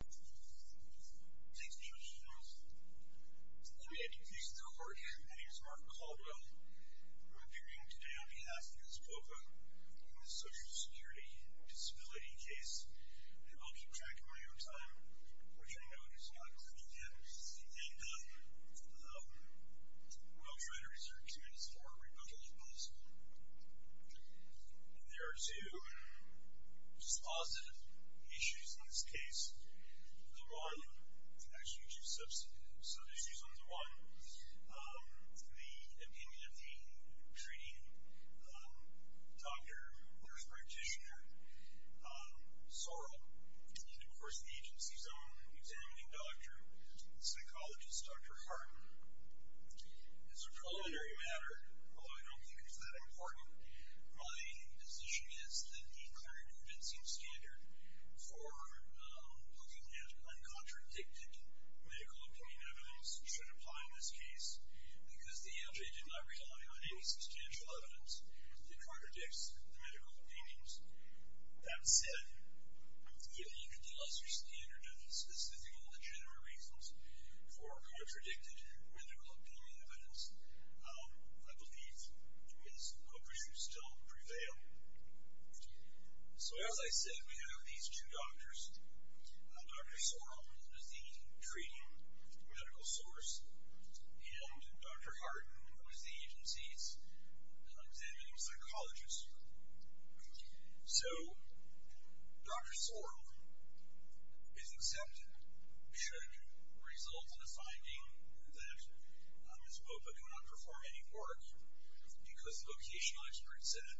Thanks for joining us. Let me introduce the report. My name is Mark Caldwell. I'm appearing today on behalf of Ms. Popa on the Social Security Disability case that I'll keep track of my own time, which I know is not good for him. And, um, um, we'll try to reserve two minutes more. Okay. There are two, um, just positive issues in this case. The one, actually two substantive issues, on the one, um, the opinion of the treating, um, doctor, nurse practitioner, um, Sorrell, and then, of course, the agency's own examining doctor, psychologist, Dr. Hartman. As a preliminary matter, although I don't think it's that important, my position is that the current convincing standard for, um, looking at uncontradicted medical opinion evidence should apply in this case because the agency did not rely on any substantial evidence that contradicts the medical opinions. That said, I think the lesser standard and the specific and the general reasons for contradicted medical opinion evidence, um, I believe, is hope issues still prevail. So, as I said, we have these two doctors. Um, Dr. Sorrell, who is the treating medical source, and Dr. Hartman, who is the agency's, um, examining psychologist. So, Dr. Sorrell is accepted should result in a finding that, um, Ms. Popa cannot perform any work because the vocational expert said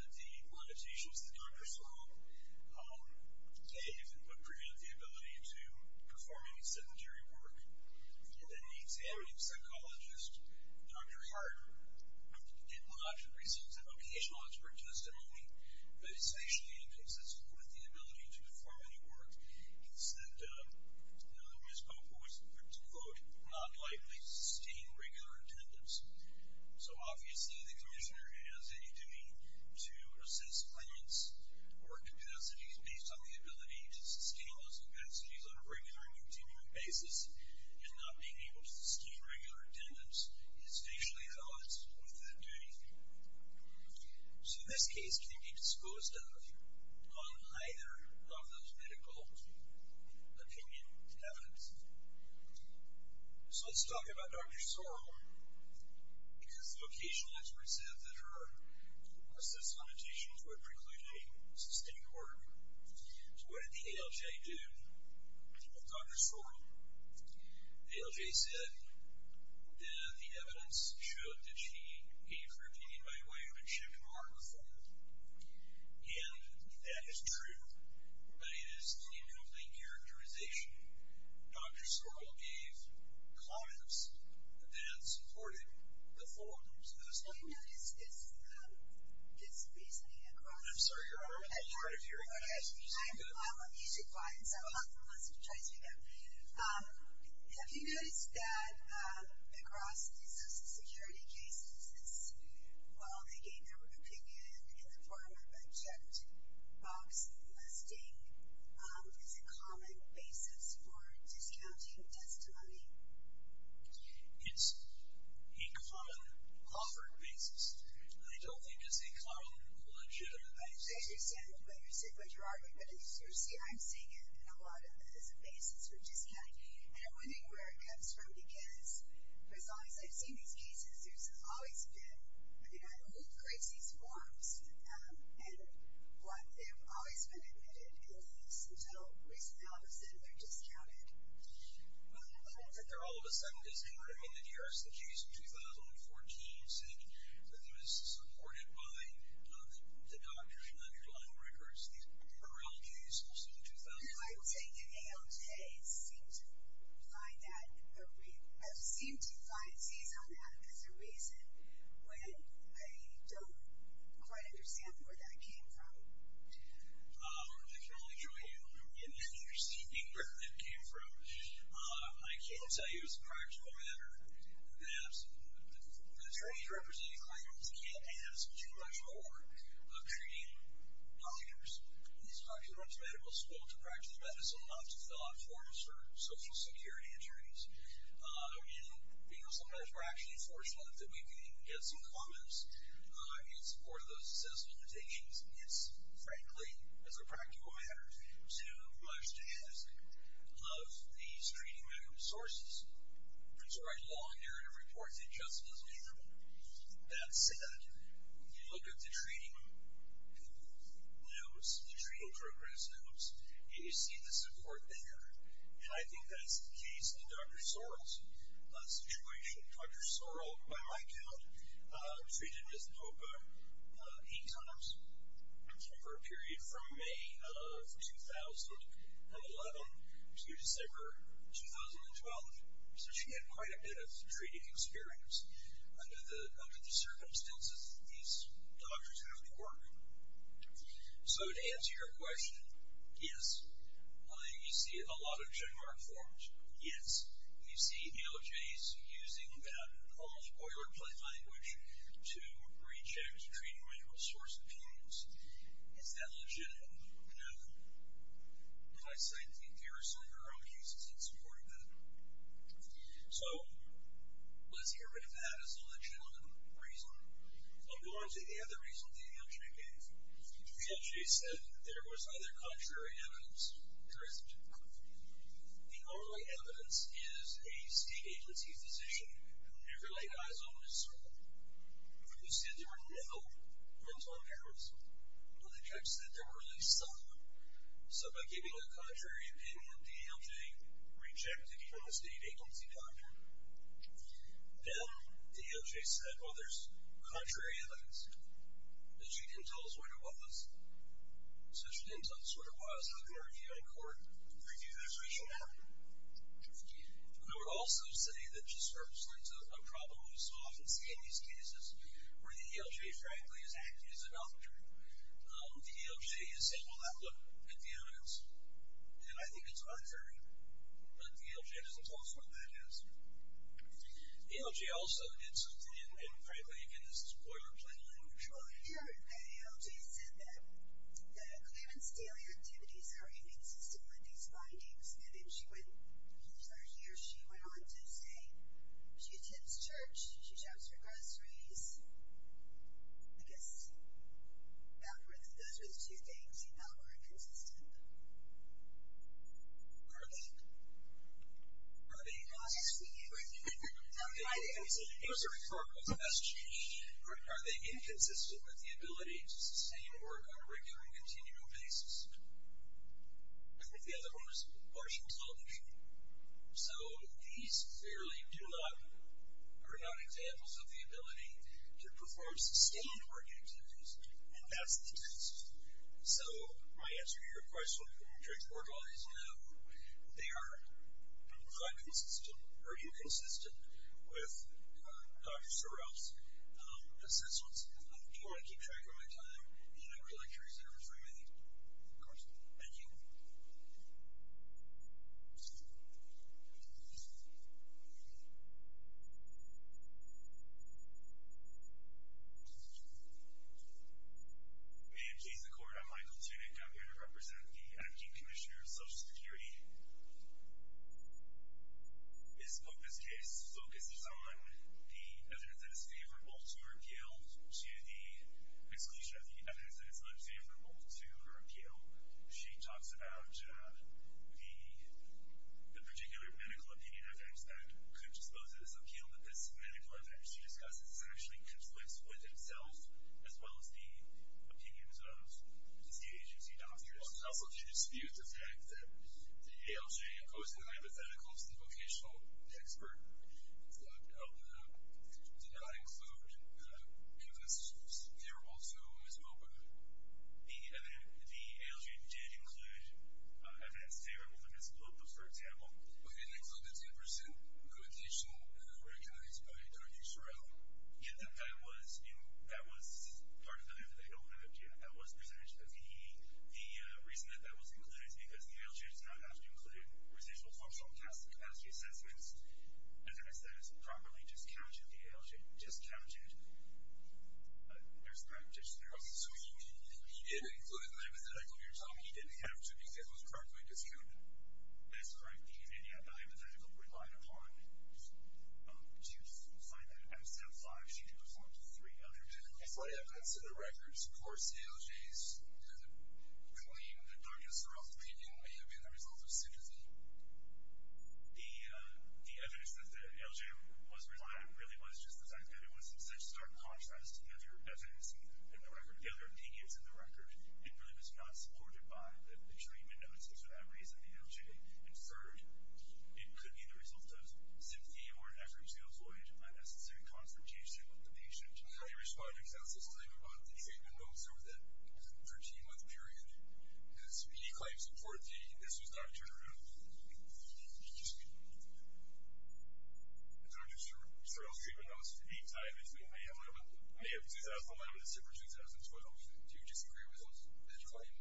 that the limitations that Dr. Sorrell, um, gave would prevent the ability to perform any sedentary work. And then the examining psychologist, Dr. Hartman, did not receive that vocational expert testimony that is actually inconsistent with the ability to perform any work. He said, um, that Ms. Popa was, to quote, not likely to sustain regular attendance. So, obviously, the commissioner has a duty to assist clients work capacities based on the ability to sustain those capacities on a regular and continuing basis. And not being able to sustain regular attendance is facially balanced with that duty. So, this case can be disposed of on either of those medical opinion evidence. So, let's talk about Dr. Sorrell Um, because the vocational expert said that her assessed limitations would preclude any sustained work. So, what did the ALJ do with Dr. Sorrell? The ALJ said that the evidence showed that she gave her opinion by way of a chipped mark before. And that is true, but it is a new plain characterization. Dr. Sorrell gave clients and supported before. Have you noticed this this reasoning across I'm sorry, you're interfering. I'm on the music line, so I'll try to do that. Have you noticed that across these social security cases, this well, they gave their opinion in the form of a checked box listing is a common basis for discounting testimony? It's a common offered basis. I don't think it's a common legitimate basis. I understand what you're saying, what you're arguing, but as you see, I'm seeing it in a lot of the basis for discounting. And I'm wondering where it comes from because as long as I've seen these cases there's always been I mean, I don't know who creates these forms. Um, and what they've always been admitted at least until recently, all of a sudden, they're discounted. Well, I hope that they're all of a sudden disincorporated. I mean, the New York City Jews in 2014 said that it was supported by the doctor in underlying records. These Sorrell Jews also in 2014 No, I think the ALJ seem to find that, or I've seen two clientees on that as a reason when I don't quite understand where that came from. Um, I can only give you an interesting figure that it came from. I can tell you as a practical matter that attorneys representing clients can't ask too much more of treating doctors. These are too much medical school to practice medicine enough to fill out forms for social security attorneys. Um, and you know, sometimes we're actually fortunate that we can even get some comments in support of those assessment decisions. It's frankly, as a practical matter, too much to ask of these treating medical sources. There's a very long narrative report that just doesn't handle that set. You look at the treating news, the treating progress news, and you see the support there. And I think that's the case in Dr. Sorrell's situation. Dr. Sorrell, by my count, treated Ms. Popa eight times for a period from May of 2011 to December 2012. So she had quite a bit of treating experience under the circumstances that these doctors have been working. So to answer your question, yes, you see a lot of general art forms. Yes, you see DOJs using that odd, boilerplate language to reject treating medical source opinions. Is that legitimate? No. And I say empirically, our own cases have supported that. So let's get rid of that as a legitimate reason. I'll go on to the other reason the DOJ gave. The DOJ said that there was either contrary evidence or isn't. The only evidence is a state agency physician who never laid eyes on Ms. Sorrell who said there were no mental impairments. But the judge said there were at least some. So by giving a contrary opinion, the DOJ rejected even the state agency doctor. Then the DOJ said, well, there's contrary evidence. But she didn't tell us what it was. So she didn't tell us what it was. I can argue that in court. Thank you for your question. We would also say that just for a problem we so often see in these cases where the DOJ frankly is acting as a doctor, the DOJ is saying, well, look, the evidence, and I think it's contrary, but the DOJ doesn't tell us what that is. The DOJ also, and frankly, again, this is boilerplate language. Well, here the DOJ said that these findings, and then she went, here she went on to say she attends church, she shops for groceries. I guess those were the two things that were inconsistent. Are they? Are they? I'll ask you. It was a referral to SG. Are they inconsistent with the ability to sustain work on a regular and continual basis? I think the other one was Washington Television. So these clearly do not, are not examples of the ability to perform sustained work activities and that's the case. So my answer to your question is no. They are not consistent. Are you consistent with Dr. Sorrell's assessments? Do you want to keep track of my time? I'm really curious to hear from you. Of course. Thank you. May it please the court. I'm Michael Tunick. I'm here to represent the Acting Commissioner of Social Security. This book, this case, focuses on the evidence that is favorable to repeal to the exclusion of the evidence that is unfavorable to repeal. She talks about the particular medical opinion that could dispose of this appeal but this medical opinion she discusses actually conflicts with itself as well as the opinions of the agency doctors. Also she disputes the fact that the ALJ, opposing hypotheticals, the vocational expert, did not include evidence favorable to Ms. Popa. The ALJ did include evidence favorable to Ms. Popa, for example. But it didn't include the 10% vocational recognized by Dr. Sorrell. That was part of the evidence they don't have yet. The reason that that was included is because the ALJ does not have to include residual functional capacity assessments. As I said, it's properly discounted. The ALJ discounted Ms. Popa. So he didn't include the hypothetical you're talking about? He didn't have to because it was probably discounted. That's correct. He did not have the hypothetical relied upon. Do you find that MSM-5 should be performed to three other typical lay-ups in the records? Of course ALJ doesn't claim that Dr. Sorrell's opinion may have been the result of sympathy. The evidence that the ALJ was relied on really was just the fact that it was in such stark contrast to the other evidence in the record, the other opinions in the record. It really was not supported by the treatment notices for that reason the ALJ inferred. It could be the result of sympathy or an effort to avoid unnecessary confrontation with the patient. How do you respond to Ms. Esselstyn about the treatment notes over that 13-month period? Did he claim support that this was not true? Dr. Sorrell's treatment notice for the time is May 11, 2011, December 2012. Do you disagree with that claim?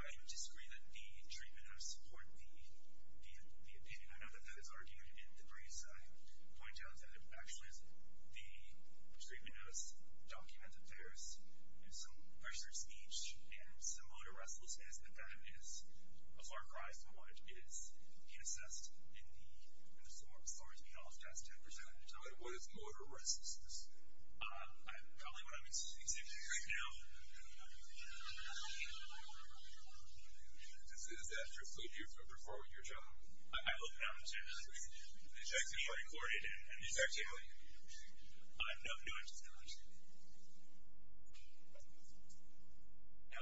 I disagree that the treatment notice support the opinion. I know that that is argued in the briefs. I point out that it actually is the treatment notice document that bears some motor restlessness, but that is a far cry from what is assessed in the form as far as the ALS test has presented. What is motor restlessness? Probably what I'm experiencing right now. Is that true? So you're referring to your job? I look down to the checks that you recorded and the fact that I have no interest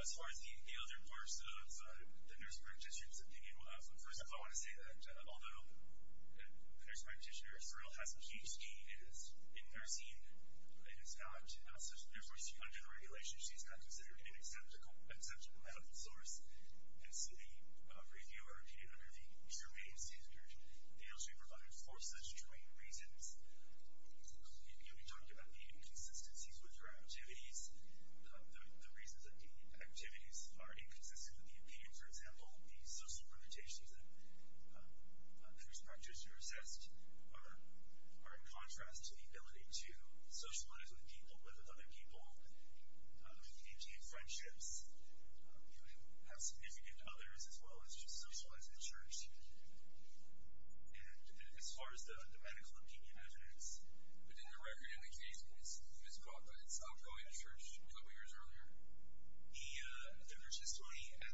in the other parts of the nurse practitioner's opinion. First of all, I want to say that although the nurse practitioner, Sorrell, has a huge key in nursing, it is not such. Under the regulations, she is not considered an acceptable medical source, and so the reviewer came under the germane standard. ALS should be provided for such germane reasons. You talked about the inconsistencies with her activities, the reasons that the activities are inconsistent with the opinion, for example, the social limitations that nurse practitioners are assessed are in contrast to the ability to socialize with people, with other people, maintain friendships, have significant others, as well as just socialize in church. And as far as the medical opinion evidence, but in the record in the case of Ms. Brock, I saw her going to church a couple years earlier. The nurse's story and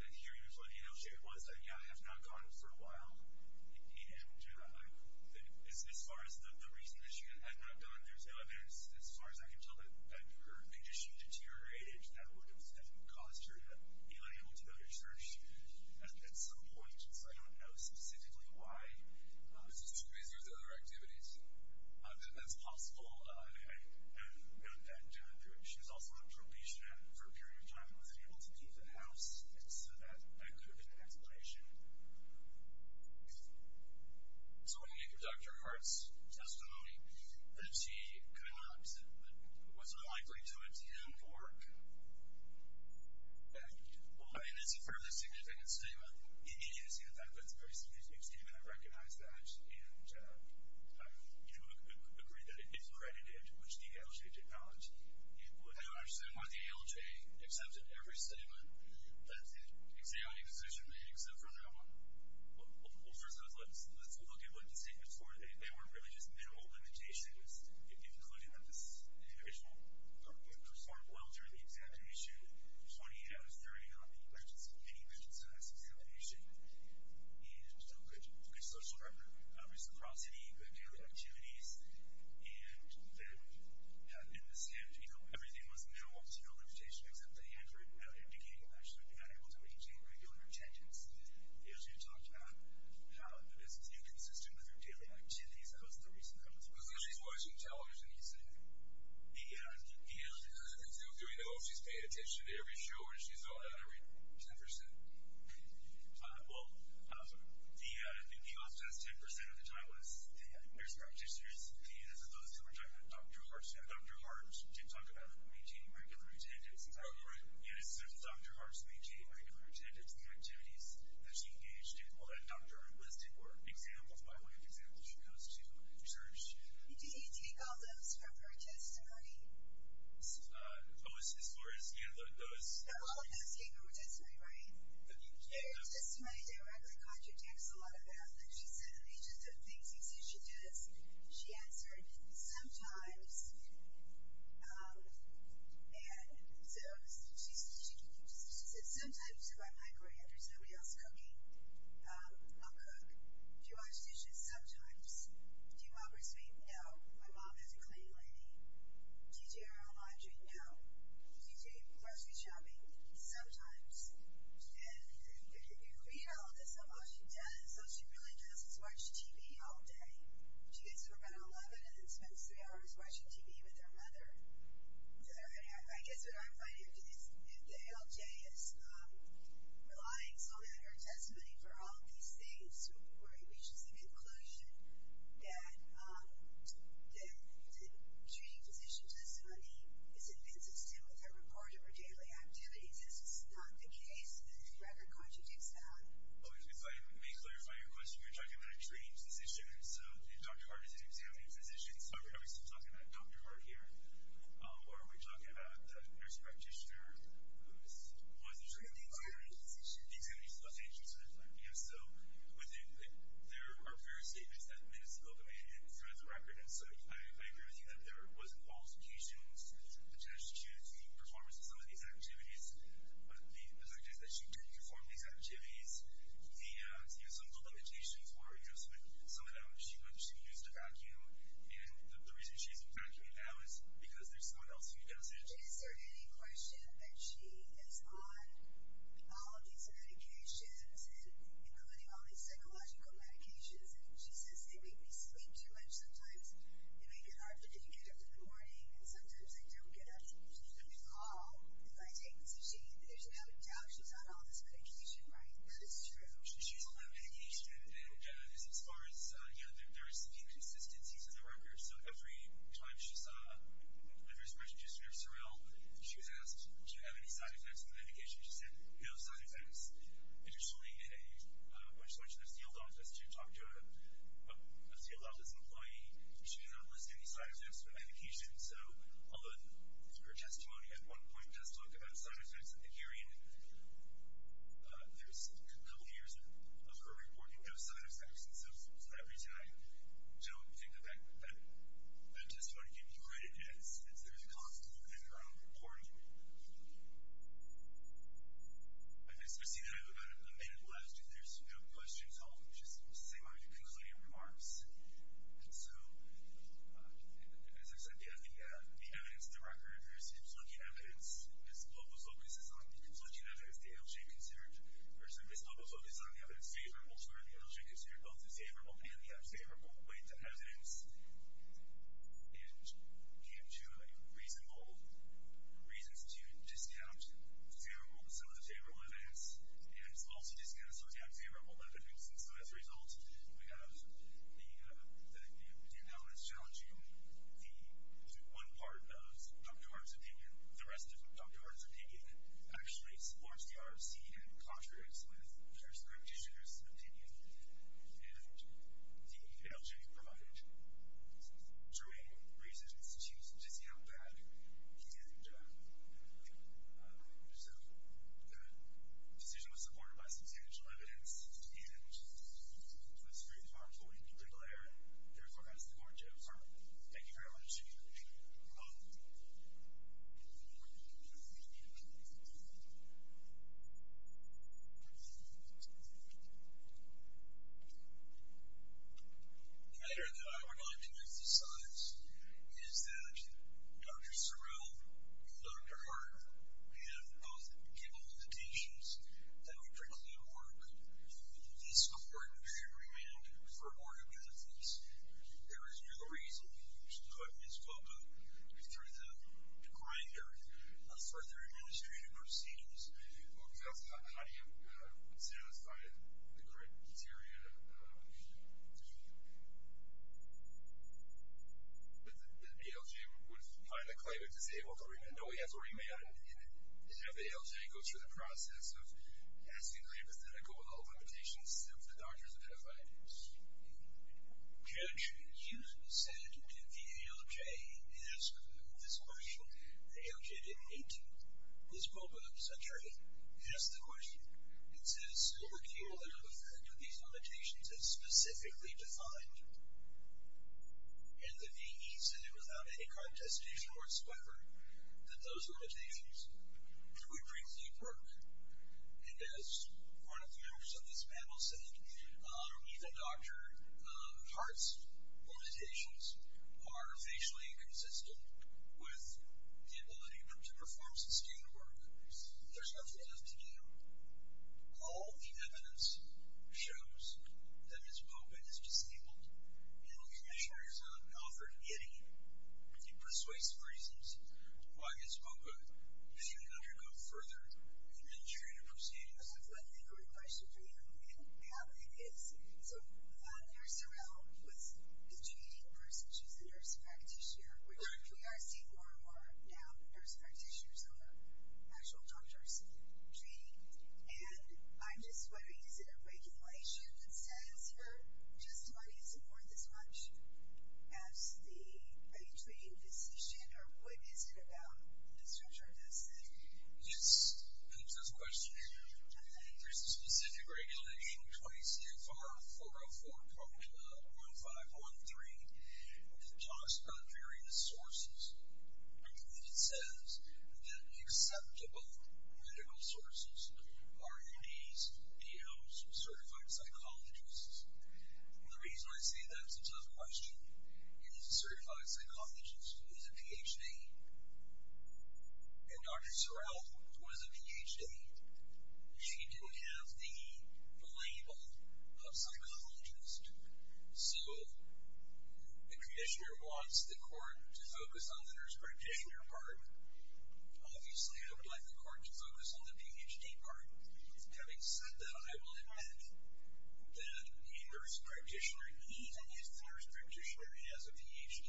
the hearings with ALS shared was that, yeah, I have not gone for a while, and as far as the reason that she had not gone, there's no evidence. As far as I can tell, her condition deteriorated, and that would have caused her to be unable to go to church at some point, and so I don't know specifically why. Is it too busy with other activities? That's possible. I have known that she was also on probation for a period of time and wasn't able to leave the house, so that could have been an explanation. So when we conducted Hart's testimony, that she was unlikely to attend work, and it's a fairly significant statement. It is, in fact, a very significant statement. I recognize that, and you would agree that it is credited, which the ALJ did not. I don't understand why the ALJ accepted every statement that the examining physician made except for that one. Well, first of all, let's look at what the statements were. They were really just minimal limitations, including that this individual performed well during the examination, 28 out of 30 on the mini-examination, and still good social record, reciprocity, good daily activities, and then in the same, you know, everything was minimal, just no limitation, except that he had to indicate that he was actually not able to attend regular attendance. The ALJ talked about how the business inconsistent with her daily activities, and that was the reason. So she's watching television, you said? Yeah. Do we know if she's paying attention to every show or if she's all out every 10%? Well, the ALJ's 10% of the time was the nurse practitioners, and those who were talking about Dr. Hart, Dr. Hart did talk about maintaining regular attendance. And as soon as Dr. Hart maintained regular attendance, the activities that she engaged in, all that Dr. Hart listed were examples, by way of example, she goes to church. Did he take all those from her testimony? Oh, all of those came from her testimony, right? There's testimony there where I'm going to contradict a lot of that, but she said, these are the things he sees she does. She answered, sometimes, and so she said, sometimes if I'm hungry and there's nobody else cooking, I'll cook. Do you wash dishes sometimes? Do you mop or sweep? No. My mom has a clean laundry. Do you do your own laundry? No. Do you do grocery shopping? Sometimes. And you can read all of this about what she does, how she really just watches TV all day. She gets to about 11 and then spends three hours watching TV with her mother until they're at home. I guess what I'm finding is if the ALJ is relying so much on her testimony for all of these things where it reaches the conclusion that the treating physician does funny, is it consistent with her report of her daily activities? If it's not the case, then rather contradicts that. If I may clarify your question, you're talking about a treating physician, so Dr. Hart is an examining physician, so are we still talking about Dr. Hart here? Or are we talking about the nurse practitioner? Who is the treating physician? The examining physician. There are various statements that Ms. Wilke made throughout the record, and so I agree with you that there was qualifications to choose the performance of some of these activities, but the fact is that she didn't perform these activities. Some of the limitations were some of them she used a vacuum, and the reason she's vacuuming now is because there's someone else who does it. Is there any question that she is on all of these medications, including all these psychological medications, and she says they make me sleep too much sometimes, they make it hard for me to get up in the morning, and sometimes I don't get up. I recall, if I take this machine, there's no doubt she's on all this medication, right? That is true. She's on that medication, and this is as far as, you know, there are some inconsistencies in the record, so every time she's the first question, just to be real, she was asked, do you have any side effects from the medication? She said, no side effects. Additionally, when she went to the sealed office to talk to a sealed office employee, she did not list any side effects from the medication, so although her testimony at one point does talk about side effects at the hearing, there's a couple years of her reporting no side effects, and so that's the reason I don't think that that testimony can be credited as there's a conflict within her own report. Thank you. I see that I have about a minute left. If there's no questions, I'll just say my concluding remarks. So, as I said, the evidence, the record, there's conflicting evidence. Ms. Lobos focuses on the conflicting evidence the ALJ considered. Ms. Lobos focuses on the evidence favorable to her, the ALJ considered both the favorable and the unfavorable with evidence, and came to reasonable reasons to discount some of the favorable evidence and also discount some of the unfavorable evidence, and so as a result, we have the pendulum that's challenging the one part of Dr. Orr's opinion, the rest of Dr. Orr's opinion, actually supports the ROC and contradicts with her district's opinion, and the ALJ provided true reasons to discount that and so the decision was supported by substantial evidence, and Ms. Friedenbarg fully declared and therefore passed the court. Thank you very much. Thank you. Thank you. Thank you. Thank you. Thank you. The matter that I would like to emphasize is that Dr. Sorrell and Dr. Hart have both given the teachings that would preclude work, and this court should remand for more evidence. There is no reason to put Ms. Lobos through the decline period of further administrative procedures. How do you satisfy the criteria to that the ALJ would find a claimant disabled to remand? No, he has already remanded, and now the ALJ goes through the process of asking the plaintiff to go with all limitations that the doctor has identified. Judge Hughes said to the ALJ in answering this question that ALJ didn't need to. Ms. Lobos, I'm sorry, asked the question. It says overkill and the effect of these limitations as specifically defined. And the VAE said it without any contestation whatsoever that those limitations would preclude work. And as one of the members of this panel said, even Dr. Lobos' limitations are facially inconsistent with the ability of him to perform sustained work. There's nothing left to do. All the evidence shows that Ms. Loba is disabled, and I'm not sure you're offered any persuasive reasons why Ms. Loba shouldn't undergo further administrative procedures. I have one inquiry question for you, and it is so Dr. Sorrell was the treating nurse, and she's the nurse practitioner, which we are seeing more and more now, nurse practitioners or actual doctors treating. And I'm just wondering, is it a regulation that says just money isn't worth as much as the treating physician, or what is it about the structure of this thing? Yes, that's a question. There's a specific regulation, 20 CFR 404.1513, which talks about various sources, and it says medical sources are UDs, DLs, certified psychologists. The reason I say that's a tough question is a certified psychologist who has a Ph.D., and Dr. Sorrell who has a Ph.D., she didn't have the label of psychologist. So the practitioner wants the court to focus on the nurse practitioner part. Obviously I would like the court to focus on the Ph.D. part. Having said that, I will admit that a nurse practitioner, even if the nurse practitioner has a Ph.D.,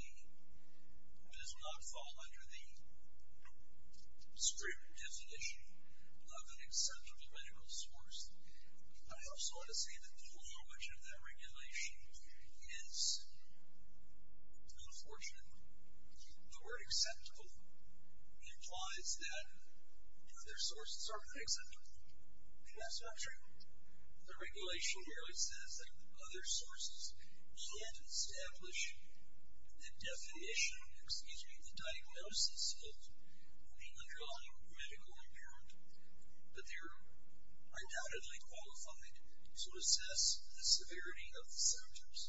does not fall under the strict definition of an acceptable medical source. I also want to say that the whole language of that regulation is unfortunate. The word acceptable implies that other sources are not acceptable. And that's not true. The regulation merely says that other sources can't establish the definition, excuse me, the diagnosis of an underlying medical impairment, but they're undoubtedly qualified to assess the severity of the symptoms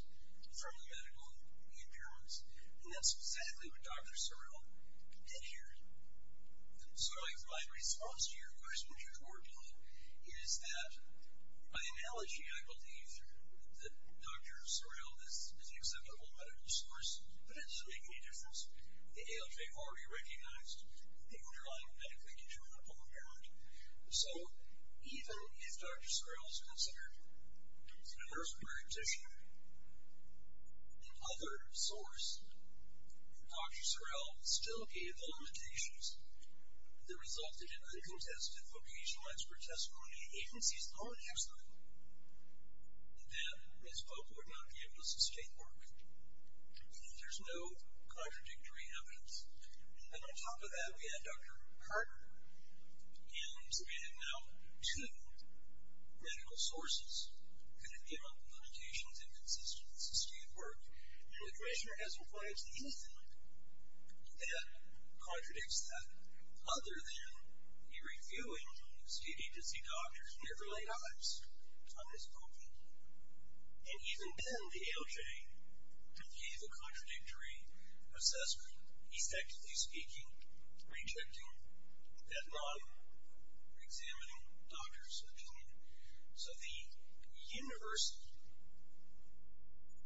from the medical impairments. And that's exactly what Dr. Sorrell did here. So my response to your question, which I'm working on, is that by analogy, I believe that Dr. Sorrell is an acceptable medical source, but it doesn't make any difference. The ALJ already recognized the underlying medical impairment. So even if Dr. Sorrell is considered a nurse practitioner, another source, Dr. Sorrell still gave limitations that resulted in uncontested vocational expert testimony, even if he's not an expert. And then, as folk would argue, it was a state work. And there's no contradictory evidence. And on top of that, we had Dr. Carter, who submitted no to medical sources, and it gave up limitations and consistency to state work. And the practitioner has a right to anything that contradicts that, other than he reviewing state agency doctors in their early lives on his own people. And even then, the ALJ gave a contradictory assessment, effectively speaking, rejecting that model for examining doctors' opinion. So the universal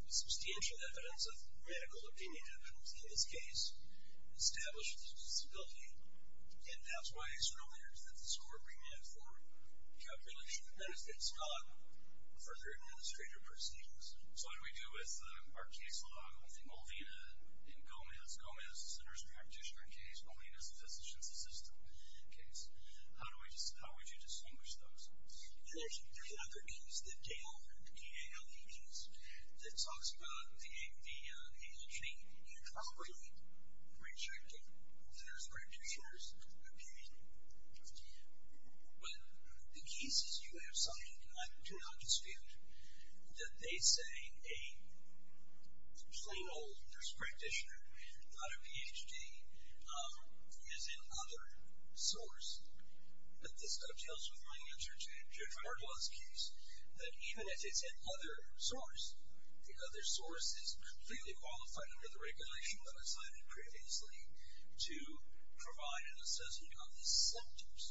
substantial evidence of medical opinion in this case established the disability, and that's why it's no wonder that this court remanded for calculation that it's not further administrative proceedings. So what do we do with our case law with the Molvina and Gomez? Gomez is a nurse practitioner case. Molvina is a physician's assistant case. How would you distinguish those? There's another case, the Dale case, that talks about the ALJ improperly rejecting the nurse practitioner's opinion. But the cases you have cited, I do not dispute that they say a plain old nurse practitioner, not a Ph.D., is an other source. But this dovetails with my answer to Dr. Erdogan's case, that even if it's an other source, the other source is completely qualified under the regulation that I cited previously to provide an assessment of the symptoms,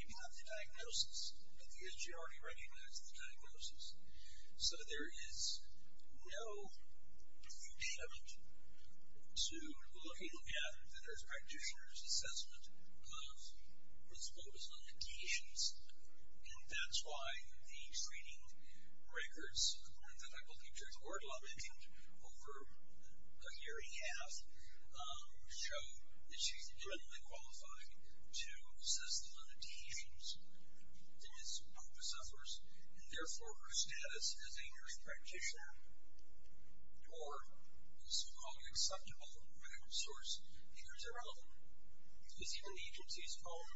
if you have the diagnosis, because you already recognize the diagnosis. So there is no impediment to looking at the nurse practitioner's assessment of what's focused on the key issues, and that's why the screening records that I will keep during the court law meeting over a year and a half show that she's adequately qualified to assess the limitations that this group of sufferers and therefore her status as a nurse practitioner or as we call an acceptable medical source here is irrelevant, because even the agency's own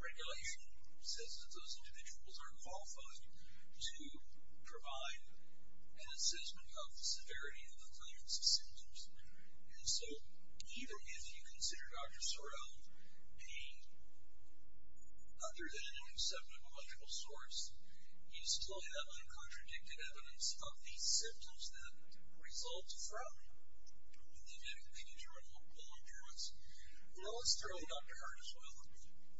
regulation says that those individuals are qualified to provide an assessment of the severity of the illness. So even if you consider Dr. Sorrell a other than an acceptable medical source, you still have the contradicted evidence of the symptoms that result from the clinical improvements. Now let's throw Dr. Hart as well,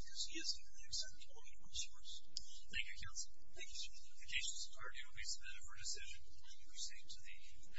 because he isn't an acceptable medical source. Thank you, counsel. Thank you, sir. The notifications of the party will be submitted for decision. We will proceed to the hearing.